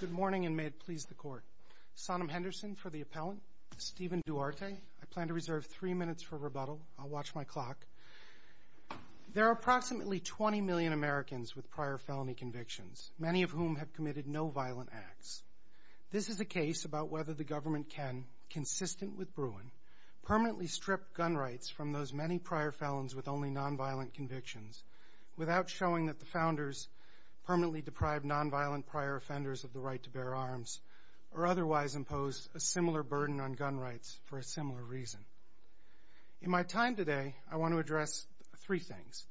Good morning, and may it please the Court. Sonam Henderson for the Appellant, Steven Duarte. I plan to reserve three minutes for rebuttal. I'll watch my clock. There are approximately 20 million Americans with prior felony convictions, many of whom have committed no violent acts. This is a case about whether the government can, consistent with Bruin, permanently strip gun rights from those many prior felons with only nonviolent convictions, without showing that the founders permanently deprived nonviolent prior offenders of the right to bear arms, or otherwise imposed a similar burden on gun rights for a similar reason. In my time today, I want to address three things.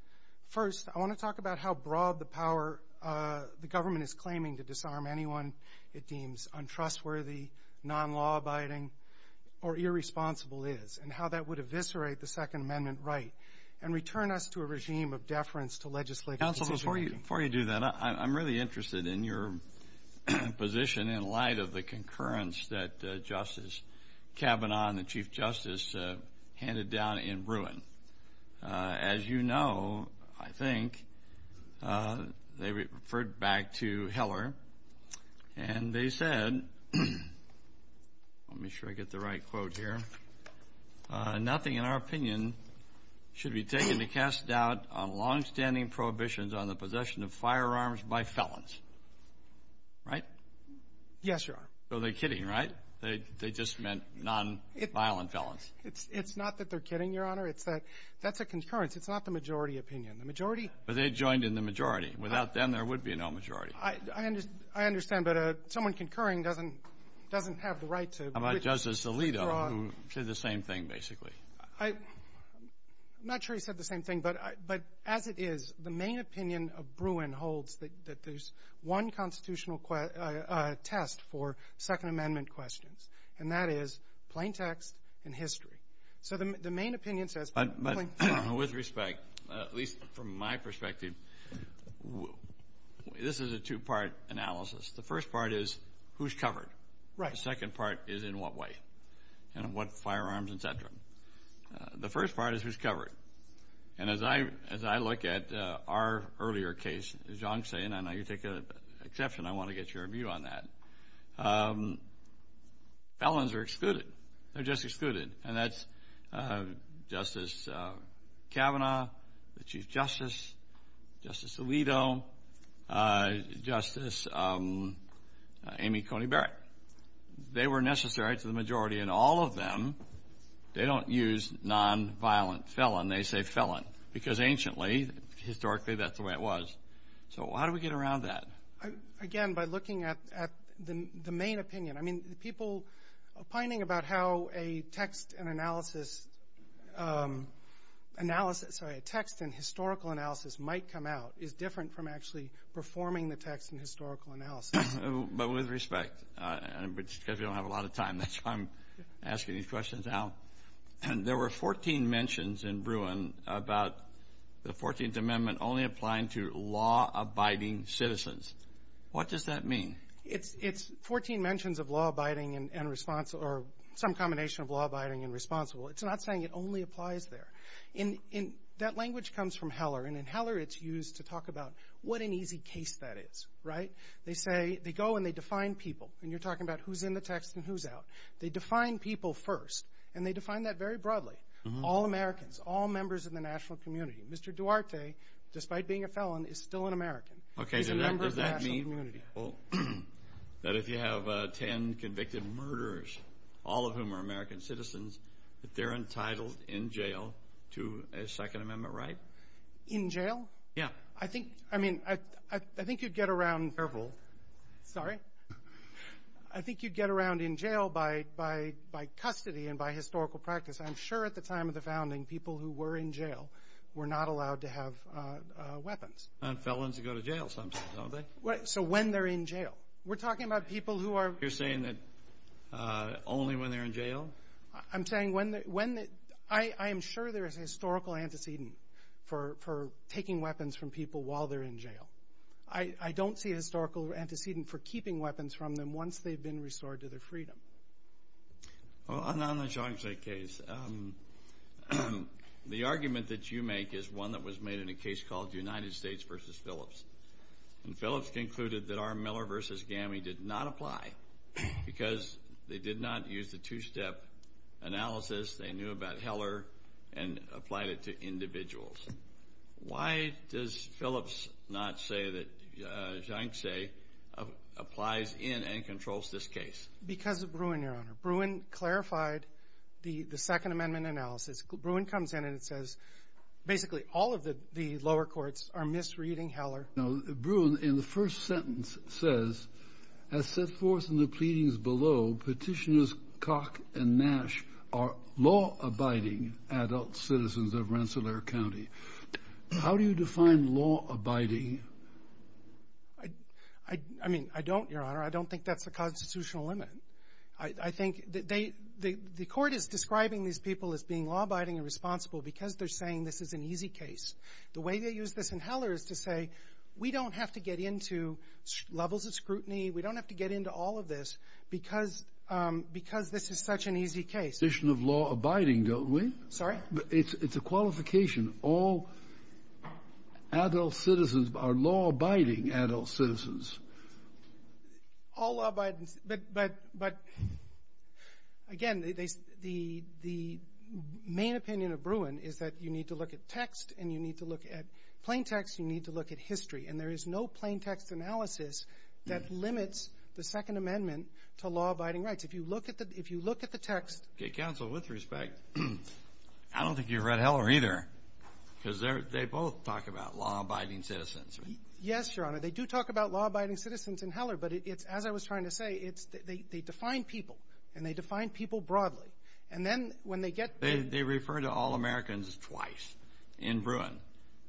First, I want to talk about how broad the power the government is claiming to disarm anyone it deems untrustworthy, non-law-abiding, or irresponsible is, and how that would eviscerate the Second Amendment right and return us to a regime of deference to legislative decision-making. Counsel, before you do that, I'm really interested in your position in light of the concurrence that Justice Kavanaugh and the Chief Justice handed down in Bruin. As you know, I think they referred back to Heller, and they said, let me make sure I get the right quote here, nothing in our opinion should be taken to cast doubt on longstanding prohibitions on the possession of firearms by felons, right? Yes, Your Honor. So they're kidding, right? They just meant nonviolent felons. It's not that they're kidding, Your Honor. It's that that's a concurrence. It's not the majority. Without them, there would be no majority. I understand, but someone concurring doesn't have the right to withdraw. How about Justice Alito, who said the same thing, basically? I'm not sure he said the same thing, but as it is, the main opinion of Bruin holds that there's one constitutional test for Second Amendment questions, and that is plaintext and history. So the main opinion says plaintext. But with respect, at least from my perspective, this is a two-part analysis. The first part is, who's covered? The second part is, in what way? And what firearms, et cetera? The first part is, who's covered? And as I look at our earlier case, as John's saying, and I know you take exception, I want to get your view on that, felons are excluded. They're just excluded, and that's Justice Kavanaugh, the Chief Justice, Justice Alito, Justice Amy Coney Barrett. They were necessary to the majority, and all of them, they don't use nonviolent felon. They say felon, because anciently, historically, that's the way it was. So how do we get around that? Again, by looking at the main opinion. I mean, the people opining about how a text and analysis, sorry, a text and historical analysis might come out is different from actually performing the text and historical analysis. But with respect, because we don't have a lot of time, that's why I'm asking these questions now. There were 14 mentions in Bruin about the 14th Amendment only applying to law-abiding citizens. What does that mean? It's 14 mentions of law-abiding and responsible, or some combination of law-abiding and responsible. It's not saying it only applies there. That language comes from Heller, and in Heller it's used to talk about what an easy case that is. They say, they go and they define people, and you're talking about who's in the text and who's out. They define people first, and they define that very broadly. All Americans, all members of the national community. Mr. Duarte, despite being a felon, is still an American. He's a member of the national community. Does that mean that if you have 10 convicted murderers, all of whom are American citizens, that they're entitled in jail to a Second Amendment right? In jail? Yeah. I think you'd get around in jail by custody and by historical practice. I'm sure at the time of the founding, people who were in jail were not allowed to have weapons. And felons go to jail sometimes, don't they? So when they're in jail. We're talking about people who are... You're saying that only when they're in jail? I'm saying when... I am sure there is a historical antecedent for taking weapons from people while they're in jail. I don't see a historical antecedent for keeping weapons from them once they've been restored to their freedom. Well, on the Zhang Tse case, the argument that you make is one that was made in a case called United States v. Phillips. And Phillips concluded that R. Miller v. GAMI did not apply because they did not use the two-step analysis. They knew about Heller and applied it to individuals. Why does Phillips not say that Zhang Tse applies in and controls this case? Because of Bruin, Your Honor. Bruin clarified the Second Amendment analysis. Bruin comes in and says, basically, all of the lower courts are misreading Heller. Bruin, in the first sentence, says, As set forth in the pleadings below, Petitioners Cock and Nash are law-abiding adult citizens of Rensselaer County. How do you define law-abiding? I mean, I don't, Your Honor. I don't think that's the constitutional limit. I think the court is describing these people as being law-abiding and responsible because they're saying this is an easy case. The way they use this in Heller is to say, we don't have to get into levels of scrutiny. We don't have to get into all of this because this is such an easy case. It's a question of law-abiding, don't we? Sorry? It's a qualification. All adult citizens are law-abiding adult citizens. All law-abiding. But, again, the main opinion of Bruin is that you need to look at text and you need to look at plain text. You need to look at history. And there is no plain text analysis that limits the Second Amendment to law-abiding rights. If you look at the text. Counsel, with respect, I don't think you've read Heller either. Because they both talk about law-abiding citizens. Yes, Your Honor. They do talk about law-abiding citizens in Heller. But it's, as I was trying to say, they define people. And they define people broadly. And then when they get to the — They refer to all Americans twice in Bruin.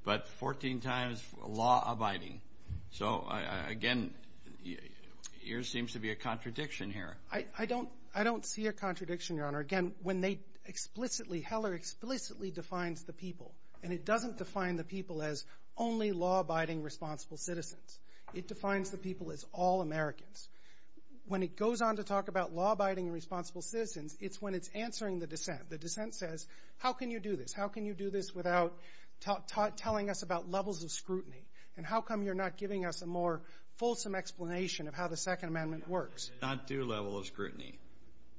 But 14 times law-abiding. So, again, there seems to be a contradiction here. I don't see a contradiction, Your Honor. Again, when they explicitly — Heller explicitly defines the people. And it doesn't define the people as only law-abiding, responsible citizens. It defines the people as all Americans. When it goes on to talk about law-abiding and responsible citizens, it's when it's answering the dissent. The dissent says, how can you do this? How can you do this without telling us about levels of scrutiny? And how come you're not giving us a more fulsome explanation of how the Second Amendment works? Not two levels of scrutiny.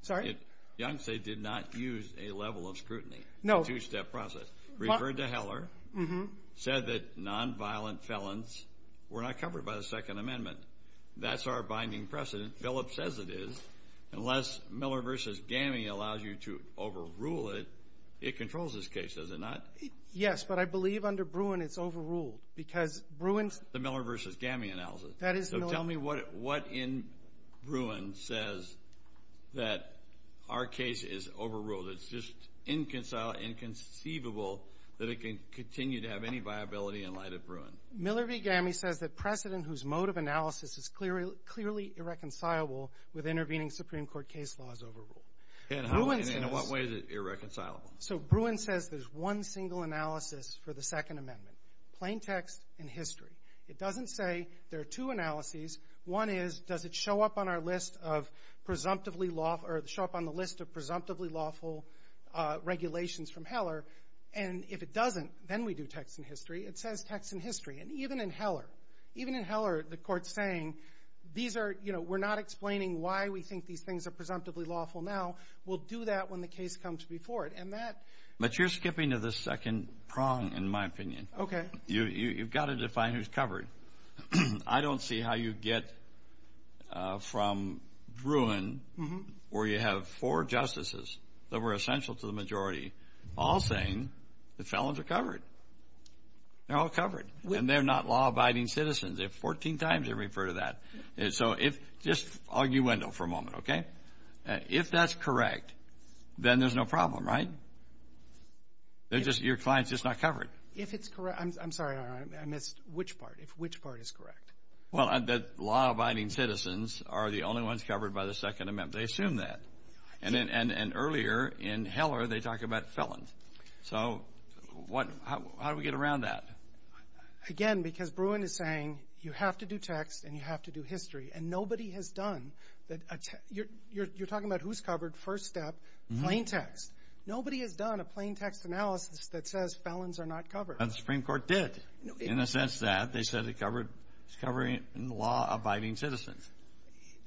Sorry? Young say did not use a level of scrutiny. No. Two-step process. Referred to Heller. Mm-hmm. Said that nonviolent felons were not covered by the Second Amendment. That's our binding precedent. Phillips says it is. Unless Miller v. Gammey allows you to overrule it, it controls this case, does it not? Yes, but I believe under Bruin it's overruled. Because Bruin's — The Miller v. Gammey analysis. That is Miller — Tell me what in Bruin says that our case is overruled. It's just inconceivable that it can continue to have any viability in light of Bruin. Miller v. Gammey says that precedent whose mode of analysis is clearly irreconcilable with intervening Supreme Court case laws overruled. And in what way is it irreconcilable? So Bruin says there's one single analysis for the Second Amendment. Plain text and history. It doesn't say there are two analyses. One is, does it show up on our list of presumptively lawful — or show up on the list of presumptively lawful regulations from Heller? And if it doesn't, then we do text and history. It says text and history. And even in Heller, even in Heller, the Court's saying these are — you know, we're not explaining why we think these things are presumptively lawful now. We'll do that when the case comes before it. And that — But you're skipping to the second prong, in my opinion. Okay. You've got to define who's covered. I don't see how you get from Bruin, where you have four justices that were essential to the majority, all saying the felons are covered. They're all covered. And they're not law-abiding citizens. They have 14 times to refer to that. So if — just arguendo for a moment, okay? If that's correct, then there's no problem, right? They're just — your client's just not covered. If it's correct — I'm sorry, I missed. Which part? Which part is correct? Well, that law-abiding citizens are the only ones covered by the Second Amendment. They assume that. And earlier, in Heller, they talk about felons. So what — how do we get around that? Again, because Bruin is saying you have to do text and you have to do history. And nobody has done — you're talking about who's covered, first step, plain text. Nobody has done a plain text analysis that says felons are not covered. The Supreme Court did, in the sense that they said it's covering law-abiding citizens.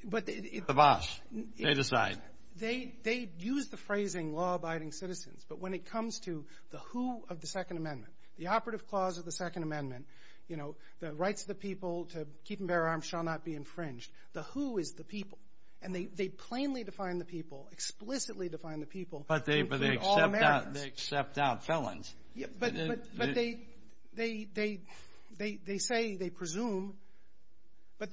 But — The boss. They decide. They use the phrasing, law-abiding citizens. But when it comes to the who of the Second Amendment, the operative clause of the Second Amendment, you know, the rights of the people to keep and bear arms shall not be infringed, the who is the people. And they plainly define the people, explicitly define the people. But they accept out felons. But they — they say, they presume. But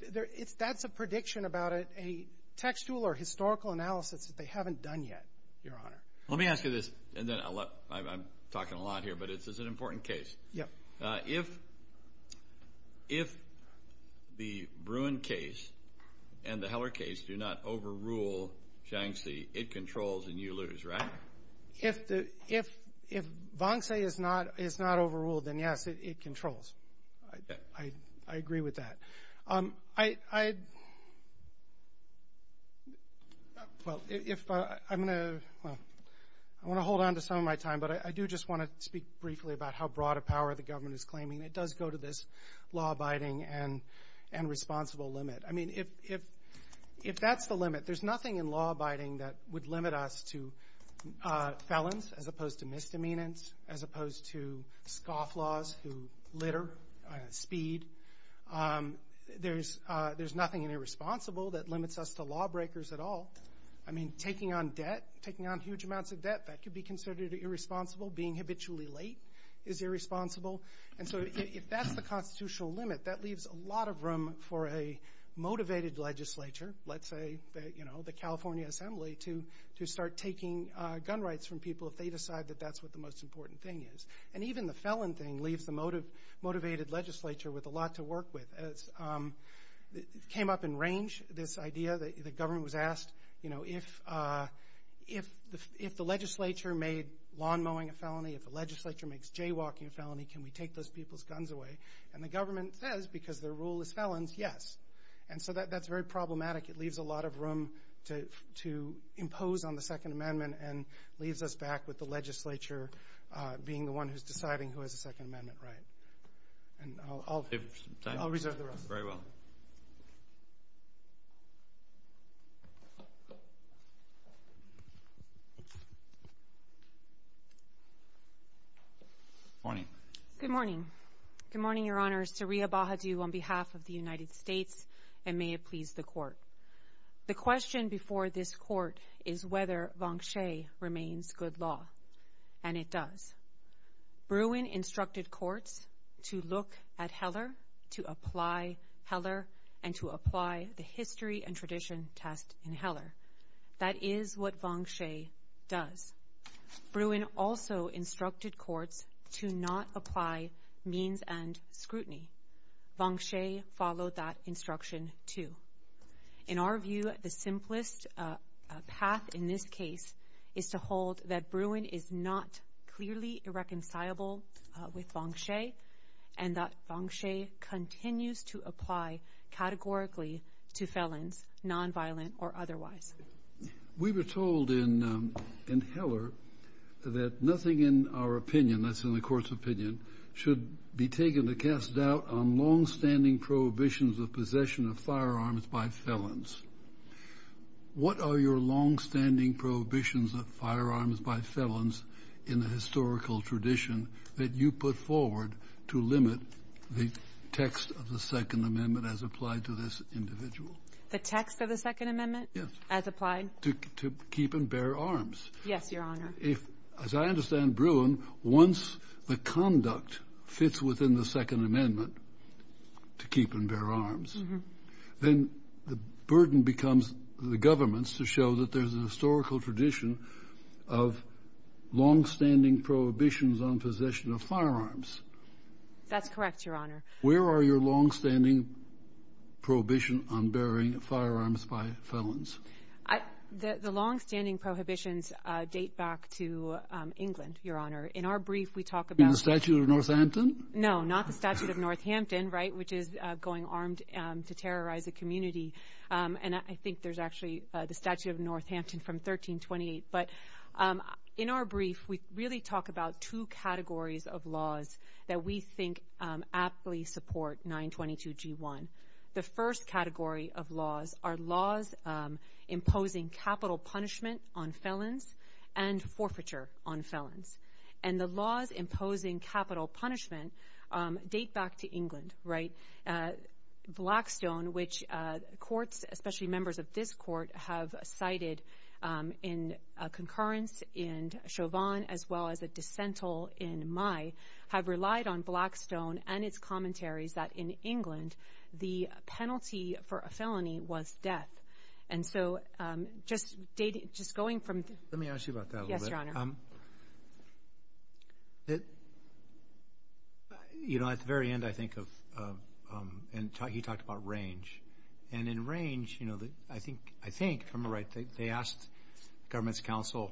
that's a prediction about a textual or historical analysis that they haven't done yet, Your Honor. Let me ask you this. And then I'm talking a lot here, but it's an important case. Yeah. If — if the Bruin case and the Heller case do not overrule Shaanxi, it controls and you lose, right? If the — if — if Wang Tse is not — is not overruled, then, yes, it controls. I agree with that. I — I — well, if I'm going to — well, I want to hold on to some of my time. But I do just want to speak briefly about how broad a power the government is claiming. It does go to this law-abiding and — and responsible limit. I mean, if — if that's the limit, there's nothing in law-abiding that would limit us to felons, as opposed to misdemeanors, as opposed to scofflaws who litter, speed. There's — there's nothing irresponsible that limits us to lawbreakers at all. I mean, taking on debt, taking on huge amounts of debt, that could be considered irresponsible. Being habitually late is irresponsible. And so if that's the constitutional limit, that leaves a lot of room for a motivated legislature, let's say, you know, the California Assembly, to — to start taking gun rights from people if they decide that that's what the most important thing is. And even the felon thing leaves the motivated legislature with a lot to work with. It came up in range, this idea that the government was asked, you know, if — if the — if the legislature made lawn mowing a felony, if the legislature makes jaywalking a felony, can we take those people's guns away? And the government says, because their rule is felons, yes. And so that — that's very problematic. It leaves a lot of room to — to impose on the Second Amendment and leaves us back with the legislature being the one who's deciding who has a Second Amendment right. And I'll — I'll reserve the rest. Thank you. Very well. Good morning. Good morning. Good morning, Your Honors. Saria Bahadu on behalf of the United States. And may it please the Court. The question before this Court is whether Vanche remains good law. And it does. Bruin instructed courts to look at Heller, to apply Heller, and to apply the history and tradition test in Heller. That is what Vanche does. Bruin also instructed courts to not apply means and scrutiny. Vanche followed that instruction, too. In our view, the simplest path in this case is to hold that Bruin is not clearly irreconcilable with Vanche and that Vanche continues to apply categorically to felons, nonviolent or otherwise. We were told in — in Heller that nothing in our opinion, that's in the Court's opinion, should be taken to cast doubt on longstanding prohibitions of possession of firearms by felons. What are your longstanding prohibitions of firearms by felons in the historical tradition that you put forward to limit the text of the Second Amendment as applied to this individual? The text of the Second Amendment? Yes. As applied? To keep and bear arms. Yes, Your Honor. If, as I understand Bruin, once the conduct fits within the Second Amendment, to keep and bear arms, then the burden becomes the government's to show that there's a historical tradition of longstanding prohibitions on possession of firearms. That's correct, Your Honor. Where are your longstanding prohibitions on bearing firearms by felons? The longstanding prohibitions date back to England, Your Honor. In our brief, we talk about — In the Statute of Northampton? No, not the Statute of Northampton, right, which is going armed to terrorize a community. And I think there's actually the Statute of Northampton from 1328. But in our brief, we really talk about two categories of laws that we think aptly support 922g1. The first category of laws are laws imposing capital punishment on felons and forfeiture on felons. And the laws imposing capital punishment date back to England, right? Blackstone, which courts, especially members of this court, have cited in concurrence in Chauvin as well as a dissental in May, have relied on Blackstone and its commentaries that in England, the penalty for a felony was death. And so, just going from — Let me ask you about that a little bit. Yes, Your Honor. You know, at the very end, I think of — And he talked about range. And in range, I think, if I'm right, they asked the government's counsel,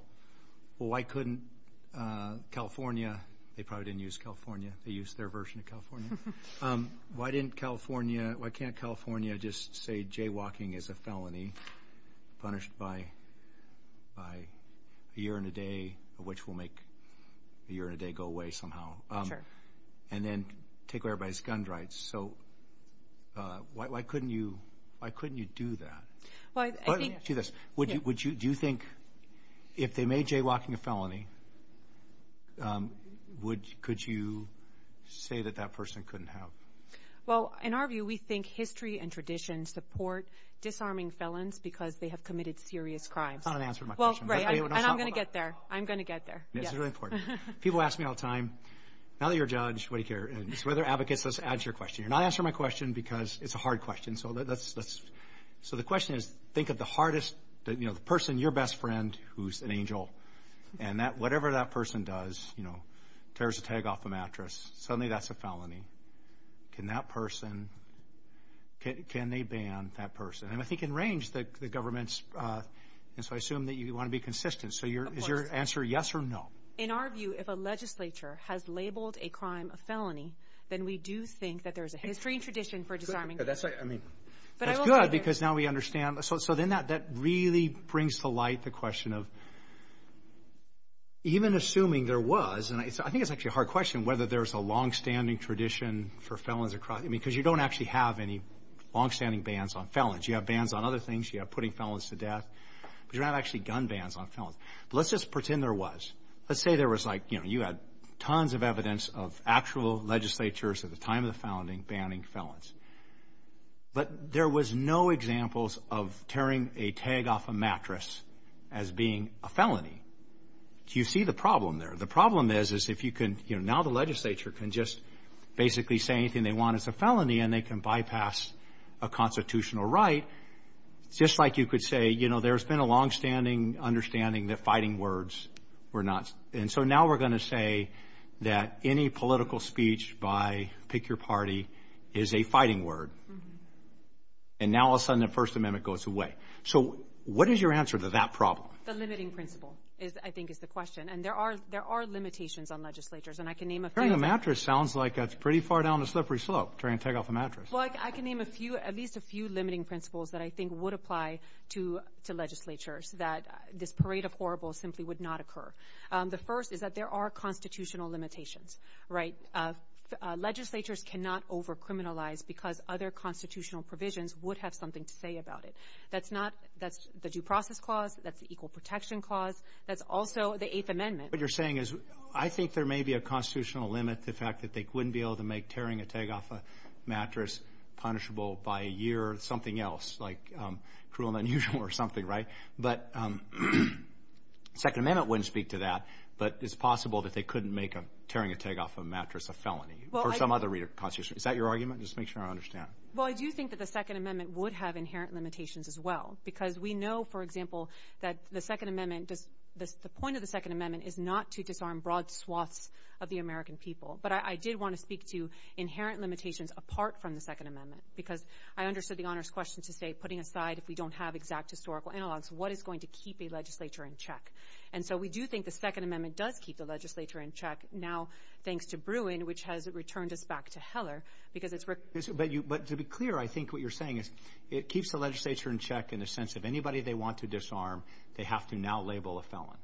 well, why couldn't California — They probably didn't use California. They used their version of California. Why didn't California — Why can't California just say jaywalking is a felony, punished by a year and a day, which will make a year and a day go away somehow? Sure. And then take away everybody's gun rights. So why couldn't you do that? Well, I think — Let me ask you this. Do you think if they made jaywalking a felony, could you say that that person couldn't have — Well, in our view, we think history and tradition support disarming felons because they have committed serious crimes. That's not an answer to my question. Well, right. And I'm going to get there. I'm going to get there. It's really important. People ask me all the time, now that you're a judge, what do you care? As weather advocates, let's add to your question. You're not answering my question because it's a hard question. So let's — So the question is, think of the hardest — You know, the person, your best friend, who's an angel. And whatever that person does, you know, tears a tag off a mattress, suddenly that's a felony. Can that person — Can they ban that person? And I think in range, the government's — And so I assume that you want to be consistent. Of course. So is your answer yes or no? In our view, if a legislature has labeled a crime a felony, then we do think that there's a history and tradition for disarming — But that's — But I will get there. That's good because now we understand. So then that really brings to light the question of, even assuming there was — And I think it's actually a hard question, whether there's a longstanding tradition for felons across — I mean, because you don't actually have any longstanding bans on felons. You have bans on other things. You have putting felons to death. But you're not actually gun bans on felons. But let's just pretend there was. Let's say there was like, you know, you had tons of evidence of actual legislatures at the time of the founding banning felons. But there was no examples of tearing a tag off a mattress as being a felony. Do you see the problem there? The problem is, is if you can — You know, now the legislature can just basically say anything they want as a felony, and they can bypass a constitutional right, just like you could say, you know, there's been a longstanding understanding that fighting words were not — And so now we're going to say that any political speech by pick your party is a fighting word. Mm-hmm. And now all of a sudden the First Amendment goes away. So what is your answer to that problem? The limiting principle, I think, is the question. And there are — there are limitations on legislatures. And I can name a few. Tearing a mattress sounds like it's pretty far down the slippery slope, tearing a tag off a mattress. Well, I can name a few — at least a few limiting principles that I think would apply to legislatures, that this parade of horribles simply would not occur. The first is that there are constitutional limitations. Right? Legislatures cannot over-criminalize because other constitutional provisions would have something to say about it. That's not — that's the Due Process Clause. That's the Equal Protection Clause. That's also the Eighth Amendment. What you're saying is I think there may be a constitutional limit to the fact that they wouldn't be able to make tearing a tag off a mattress punishable by a year or something else, like cruel and unusual or something. Right? But the Second Amendment wouldn't speak to that. But it's possible that they couldn't make tearing a tag off a mattress a felony. Well, I — Or some other constitutional — is that your argument? Just to make sure I understand. Well, I do think that the Second Amendment would have inherent limitations as well. Because we know, for example, that the Second Amendment does — the point of the Second Amendment is not to disarm broad swaths of the American people. But I did want to speak to inherent limitations apart from the Second Amendment. Because I understood the Honor's question to say, putting aside if we don't have exact historical analogs, what is going to keep a legislature in check? And so we do think the Second Amendment does keep the legislature in check, now thanks to Bruin, which has returned us back to Heller, because it's — But to be clear, I think what you're saying is it keeps the legislature in check in the sense if anybody they want to disarm, they have to now label a felon.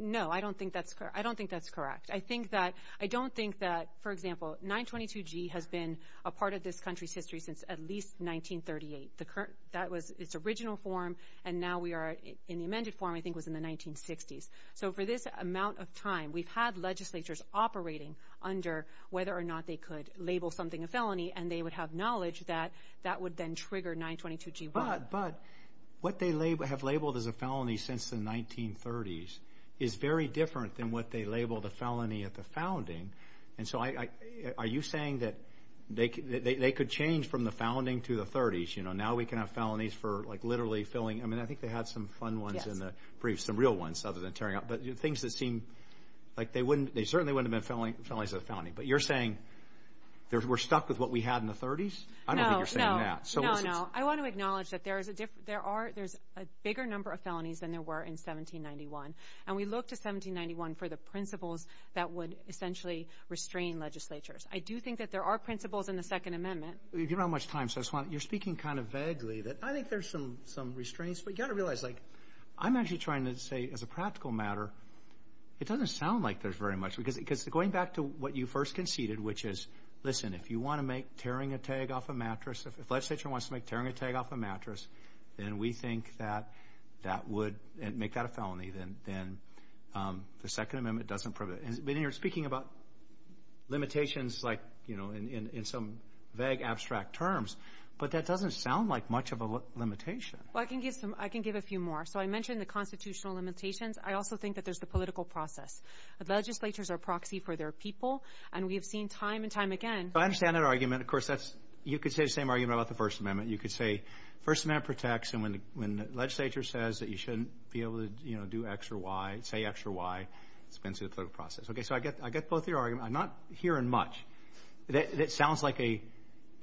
No, I don't think that's — I don't think that's correct. I think that — I don't think that, for example, 922G has been a part of this country's history since at least 1938. The current — that was its original form, and now we are in the amended form, I think it was in the 1960s. operating under whether or not they could label something a felony, and they would have knowledge that that would then trigger 922G1. But what they have labeled as a felony since the 1930s is very different than what they label the felony at the founding. And so are you saying that they could change from the founding to the 30s? You know, now we can have felonies for, like, literally filling — I mean, I think they had some fun ones in the brief, some real ones, other than tearing up. But things that seem — like, they certainly wouldn't have been felonies as a felony. But you're saying we're stuck with what we had in the 30s? I don't think you're saying that. No, no. I want to acknowledge that there's a bigger number of felonies than there were in 1791. And we look to 1791 for the principles that would essentially restrain legislatures. I do think that there are principles in the Second Amendment. You're speaking kind of vaguely. I think there's some restraints, but you've got to realize, like, I'm actually trying to say, as a practical matter, it doesn't sound like there's very much. Because going back to what you first conceded, which is, listen, if you want to make tearing a tag off a mattress — if legislature wants to make tearing a tag off a mattress, then we think that that would — make that a felony. Then the Second Amendment doesn't — but then you're speaking about limitations, like, you know, in some vague, abstract terms. But that doesn't sound like much of a limitation. Well, I can give a few more. So I mentioned the constitutional limitations. I also think that there's the political process. Legislatures are a proxy for their people, and we have seen time and time again — I understand that argument. Of course, that's — you could say the same argument about the First Amendment. You could say First Amendment protects, and when the legislature says that you shouldn't be able to, you know, do X or Y, say X or Y, it's been through the political process. Okay, so I get both your arguments. I'm not hearing much. It sounds like the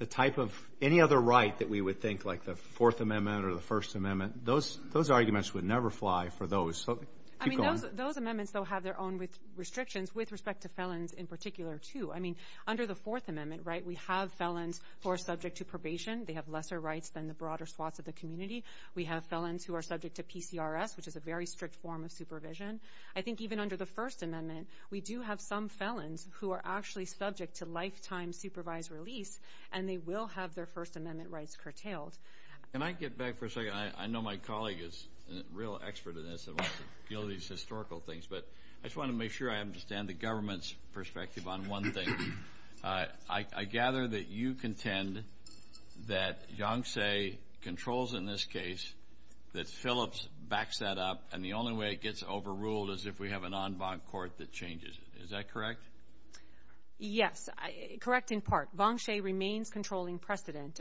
type of — any other right that we would think, like the Fourth Amendment or the First Amendment, those arguments would never fly for those. I mean, those amendments, though, have their own restrictions with respect to felons in particular, too. I mean, under the Fourth Amendment, right, we have felons who are subject to probation. They have lesser rights than the broader swaths of the community. We have felons who are subject to PCRS, which is a very strict form of supervision. I think even under the First Amendment, we do have some felons who are actually subject to lifetime supervised release, and they will have their First Amendment rights curtailed. Can I get back for a second? I know my colleague is a real expert in this and wants to deal with these historical things, but I just want to make sure I understand the government's perspective on one thing. I gather that you contend that Yang Tse controls in this case that Phillips backs that up, and the only way it gets overruled is if we have an en banc court that changes it. Is that correct? Yes, correct in part. Vang She remains controlling precedent.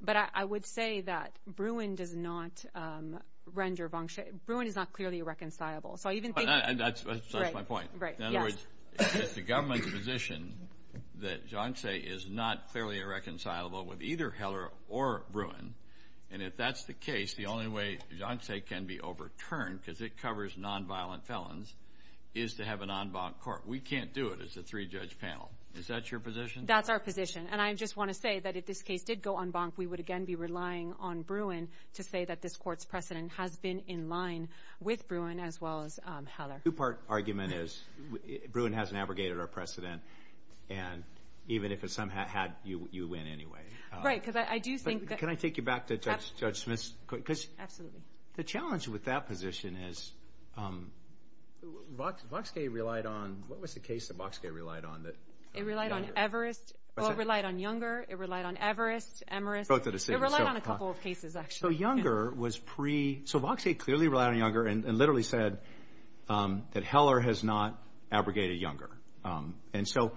But I would say that Bruin is not clearly irreconcilable. That's my point. In other words, the government's position that Yang Tse is not clearly irreconcilable with either Heller or Bruin, and if that's the case, the only way Yang Tse can be overturned because it covers nonviolent felons is to have an en banc court. We can't do it as a three-judge panel. Is that your position? That's our position, and I just want to say that if this case did go en banc, we would again be relying on Bruin to say that this court's precedent has been in line with Bruin as well as Heller. The two-part argument is Bruin hasn't abrogated our precedent, and even if it somehow had, you win anyway. Can I take you back to Judge Smith's? Absolutely. The challenge with that position is... What was the case that Boxcay relied on? It relied on Everist. It relied on Younger. It relied on Everist, Emerist. It relied on a couple of cases, actually. So Boxcay clearly relied on Younger and literally said that Heller has not abrogated Younger. And so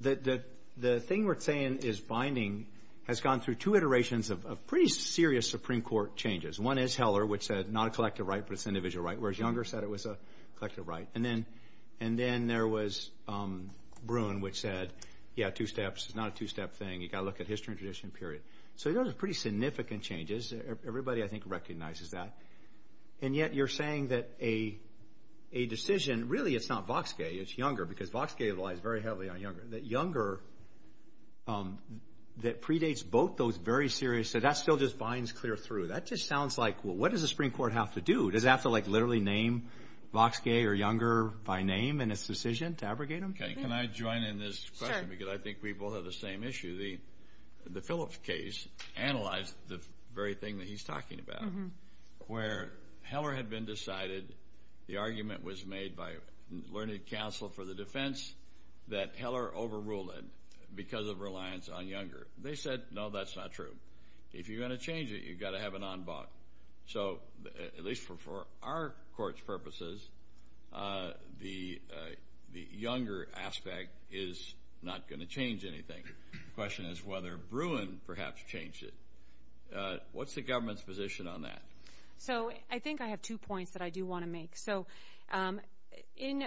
the thing we're saying is binding has gone through two iterations of pretty serious Supreme Court changes. One is Heller, which said not a collective right, but it's an individual right, whereas Younger said it was a collective right. And then there was Bruin, which said he had two steps. It's not a two-step thing. You've got to look at history and tradition, period. So those are pretty significant changes. Everybody, I think, recognizes that. And yet you're saying that a decision... Really, it's not Boxcay. It's Younger, because Boxcay relies very heavily on Younger. That Younger predates both those very serious... So that still just binds clear through. That just sounds like, what does the Supreme Court have to do? Does it have to literally name Boxcay or Younger by name in its decision to abrogate them? Can I join in this question? Sure. Because I think we both have the same issue. The Phillips case analyzed the very thing that he's talking about, where Heller had been decided, the argument was made by Learned Counsel for the Defense that Heller overruled because of reliance on Younger. They said, no, that's not true. If you're going to change it, you've got to have an en bas. At least for our court's purposes, the Younger aspect is not going to change anything. The question is whether Bruin perhaps changed it. What's the government's position on that? I think I have two points that I do want to make. In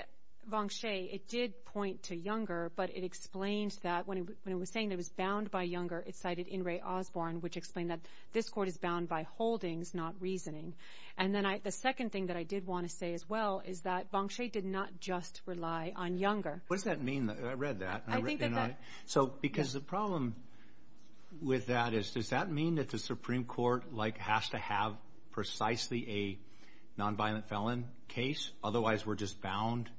Boxcay, it did point to Younger, but it explained that when it was saying it was bound by Younger, it cited Osborne, which explained that this court is bound by holdings, not reasoning. The second thing that I did want to say as well is that Boxcay did not just rely on Younger. What does that mean? I read that. Because the problem with that is, does that mean that the Supreme Court has to have precisely a nonviolent felon case? Otherwise, we're just bound.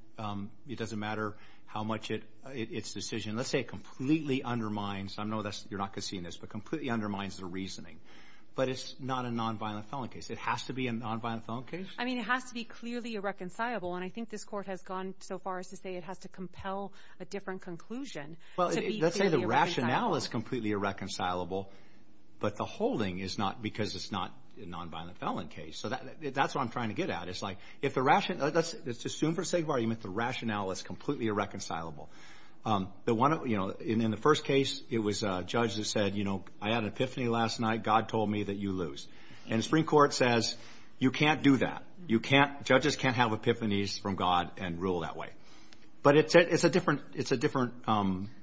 It doesn't matter how much its decision, let's say, completely undermines. I know you're not going to see this, but completely undermines the reasoning. But it's not a nonviolent felon case. It has to be a nonviolent felon case? It has to be clearly irreconcilable. I think this Court has gone so far as to say it has to compel a different conclusion to be irreconcilable. Let's say the rationale is completely irreconcilable, but the holding is not, because it's not a nonviolent felon case. That's what I'm trying to get at. Let's assume for the sake of argument the rationale is completely irreconcilable. In the first case, it was a judge that said, I had an epiphany last night. God told me that you lose. And the Supreme Court says, you can't do that. Judges can't have epiphanies from God and rule that way. But it's a different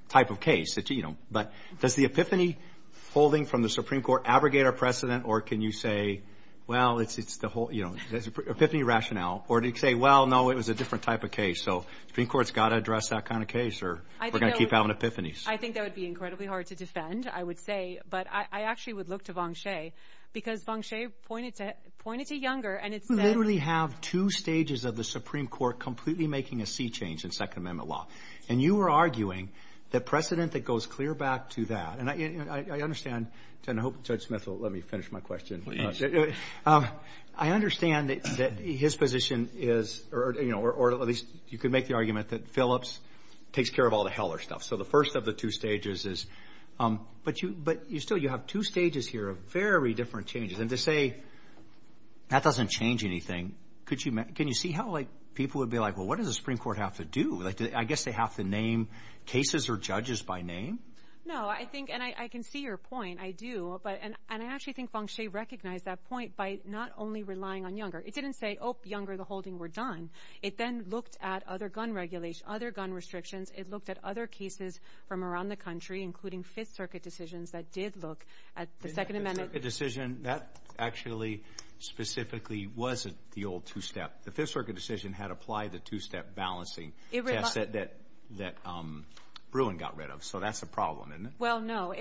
type of case. Does the epiphany holding from the Supreme Court abrogate our precedent, or can you say, there's an epiphany rationale? Or do you say, no, it was a different type of case? So the Supreme Court's got to address that kind of case, or we're going to keep having epiphanies. I think that would be incredibly hard to defend, I would say. But I actually would look to Vonshay, because Vonshay pointed to Younger, and it said... You literally have two stages of the Supreme Court completely making a sea change in Second Amendment law. And you were arguing the precedent that goes clear back to that. And I understand, and I hope Judge Smith will let me finish my question. I understand that his position is, or at least you could make the argument that Phillips takes care of all the Heller stuff. So the first of the two stages is... But still, you have two stages here of very different changes. And to say, that doesn't change anything. Can you see how people would be like, well, what does the Supreme Court have to do? I guess they have to name cases or judges by name? No, I think, and I can see your point, I do. And I actually think Vonshay recognized that point by not only relying on Younger. It didn't say, oh, Younger, the holding, we're done. It then looked at other gun regulations, other gun restrictions. It looked at other cases from around the country, including Fifth Circuit decisions, that did look at the Second Amendment. The Fifth Circuit decision, that actually specifically wasn't the old two-step. The Fifth Circuit decision had applied the two-step balancing test that Bruin got rid of. So that's a problem, isn't it? Well, no.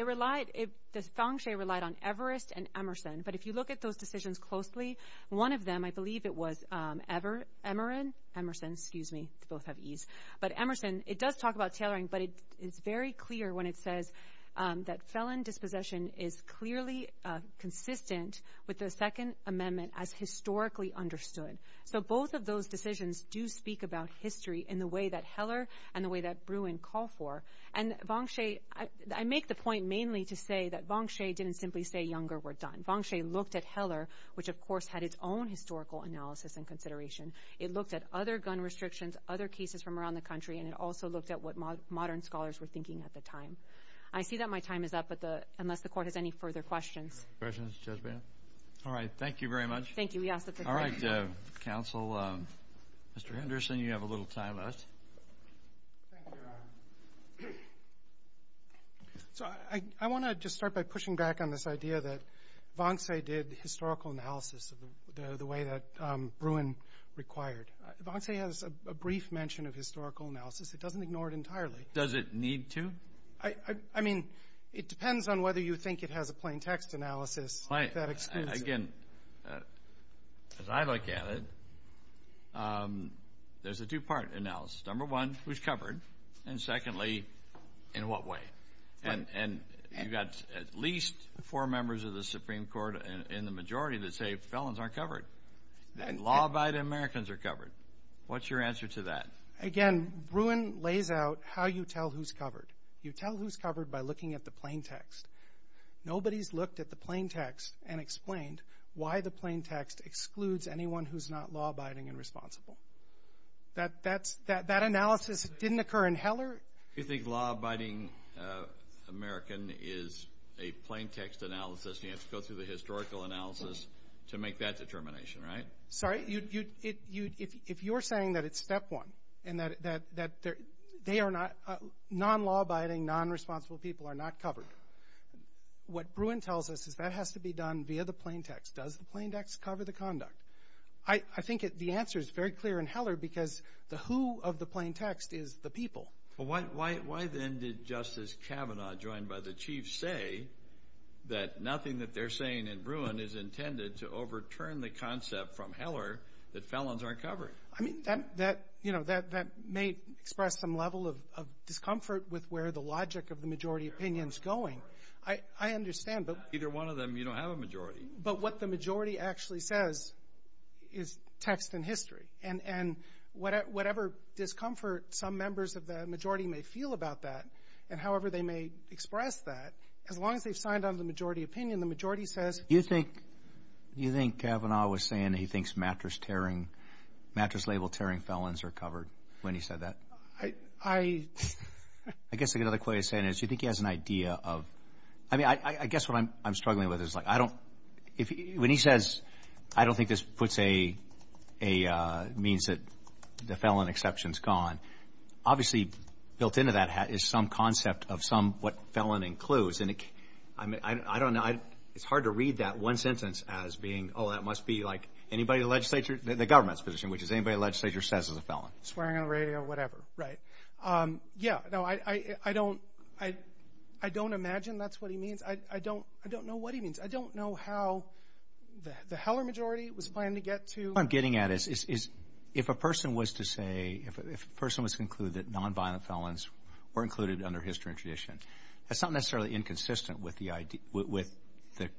Vonshay relied on Everest and Emerson. But if you look at those decisions closely, one of them, I believe it was Emerson. They both have Es. But Emerson, it does talk about tailoring, but it's very clear when it says that felon dispossession is clearly consistent with the Second Amendment as historically understood. So both of those decisions do speak about history in the way that Heller and the way that Bruin call for. And Vonshay, I make the point mainly to say that Vonshay didn't simply say younger, we're done. Vonshay looked at Heller, which of course had its own historical analysis and consideration. It looked at other gun restrictions, other cases from around the country, and it also looked at what modern scholars were thinking at the time. I see that my time is up, unless the Court has any further questions. All right. Thank you very much. All right, Counsel. Mr. Henderson, you have a little time left. Thank you, Your Honor. So I want to just start by pushing back on this idea that Vonshay did historical analysis the way that Bruin required. Vonshay has a brief mention of historical analysis. It doesn't ignore it entirely. Does it need to? I mean, it depends on whether you think it has a plain text analysis that excludes... Again, as I look at it, there's a two-part analysis. Number one was covered and secondly, in what way? And you've got at least four members of the Supreme Court in the majority that say felons aren't covered and law-abiding Americans are covered. What's your answer to that? Again, Bruin lays out how you tell who's covered. You tell who's covered by looking at the plain text. Nobody's looked at the plain text and explained why the plain text excludes anyone who's not law-abiding and responsible. That analysis didn't occur in Heller. You think law-abiding American is a plain text analysis and you have to go through the historical analysis to make that determination, right? If you're saying that it's step one and that non-law-abiding, non-responsible people are not covered, what Bruin tells us is that has to be done via the plain text. Does the plain text cover the conduct? I think the answer is very clear in Heller because the who of the plain text is the people. Why then did Justice Kavanaugh, joined by the Chief, say that nothing that they're saying in Bruin is intended to overturn the concept from Heller that felons aren't covered? That may express some level of discomfort with where the logic of the majority opinion is going. I understand. Either one of them, you don't have a majority. But what the majority actually says is text and history. And whatever discomfort some members of the majority may feel about that, and however they may express that, as long as they've signed on to the majority opinion, the majority says... Do you think Kavanaugh was saying he thinks mattress label tearing felons are covered when he said that? I guess another way of saying it is you think he has an idea of... I mean, I guess what I'm struggling with is when he says, I don't think this puts a means that the felon exception is gone, obviously built into that is some concept of what felon includes. I don't know. It's hard to read that one sentence as being oh, that must be anybody in the legislature in the government's position, which is anybody in the legislature says he's a felon. Swearing on the radio, whatever. Right. Yeah. I don't imagine that's what he means. I don't know what he means. I don't know how the Heller majority was planning to get to... What I'm getting at is if a person was to say, if a person was to conclude that nonviolent felons were included under history and tradition, that's not necessarily inconsistent with the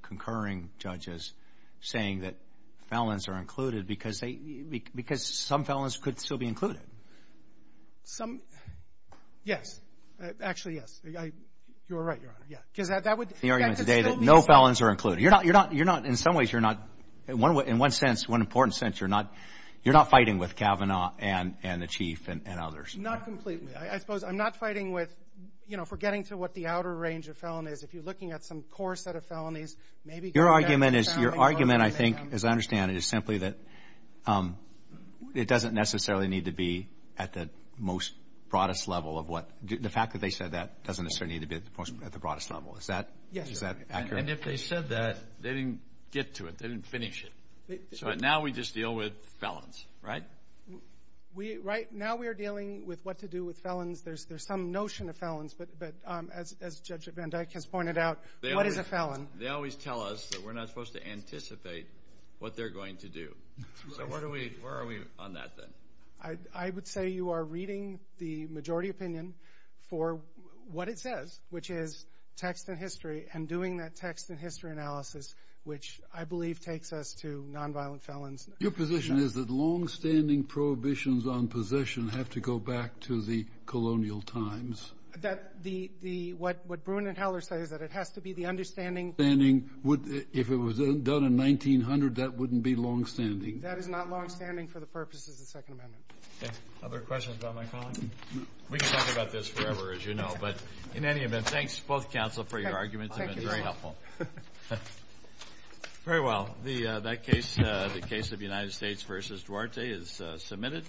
concurring judges saying that felons are included because some felons could still be included. Yes. Actually, yes. You're right, Your Honor. No felons are included. In some ways, you're not in one important sense fighting with Kavanaugh and the Chief and others. Not completely. I suppose I'm not fighting for getting to what the outer range of felonies if you're looking at some core set of felonies. Your argument I think, as I understand it, is simply that it doesn't necessarily need to be at the most broadest level of what... The fact that they said that doesn't necessarily need to be at the broadest level. Is that accurate? If they said that, they didn't get to it. They didn't finish it. Now we just deal with felons. Right? Now we're dealing with what to do with felons. There's some notion of felons, but as Judge Van Dyck has pointed out, what is a felon? They always tell us that we're not supposed to anticipate what they're going to do. Where are we on that, then? I would say you are reading the majority opinion for what it says, which is text and history, and doing that text and history analysis, which I believe takes us to nonviolent felons. Your position is that long-standing prohibitions on possession have to go back to the colonial times. What Bruin and Heller say is that it has to be the understanding... If it was done in 1900, that wouldn't be long-standing. That is not long-standing for the purposes of the Second Amendment. Other questions about my colleague? We could talk about this forever, as you know, but in any event, thanks, both counsel, for your arguments. They've been very helpful. Very well. The case of United States v. Duarte is submitted.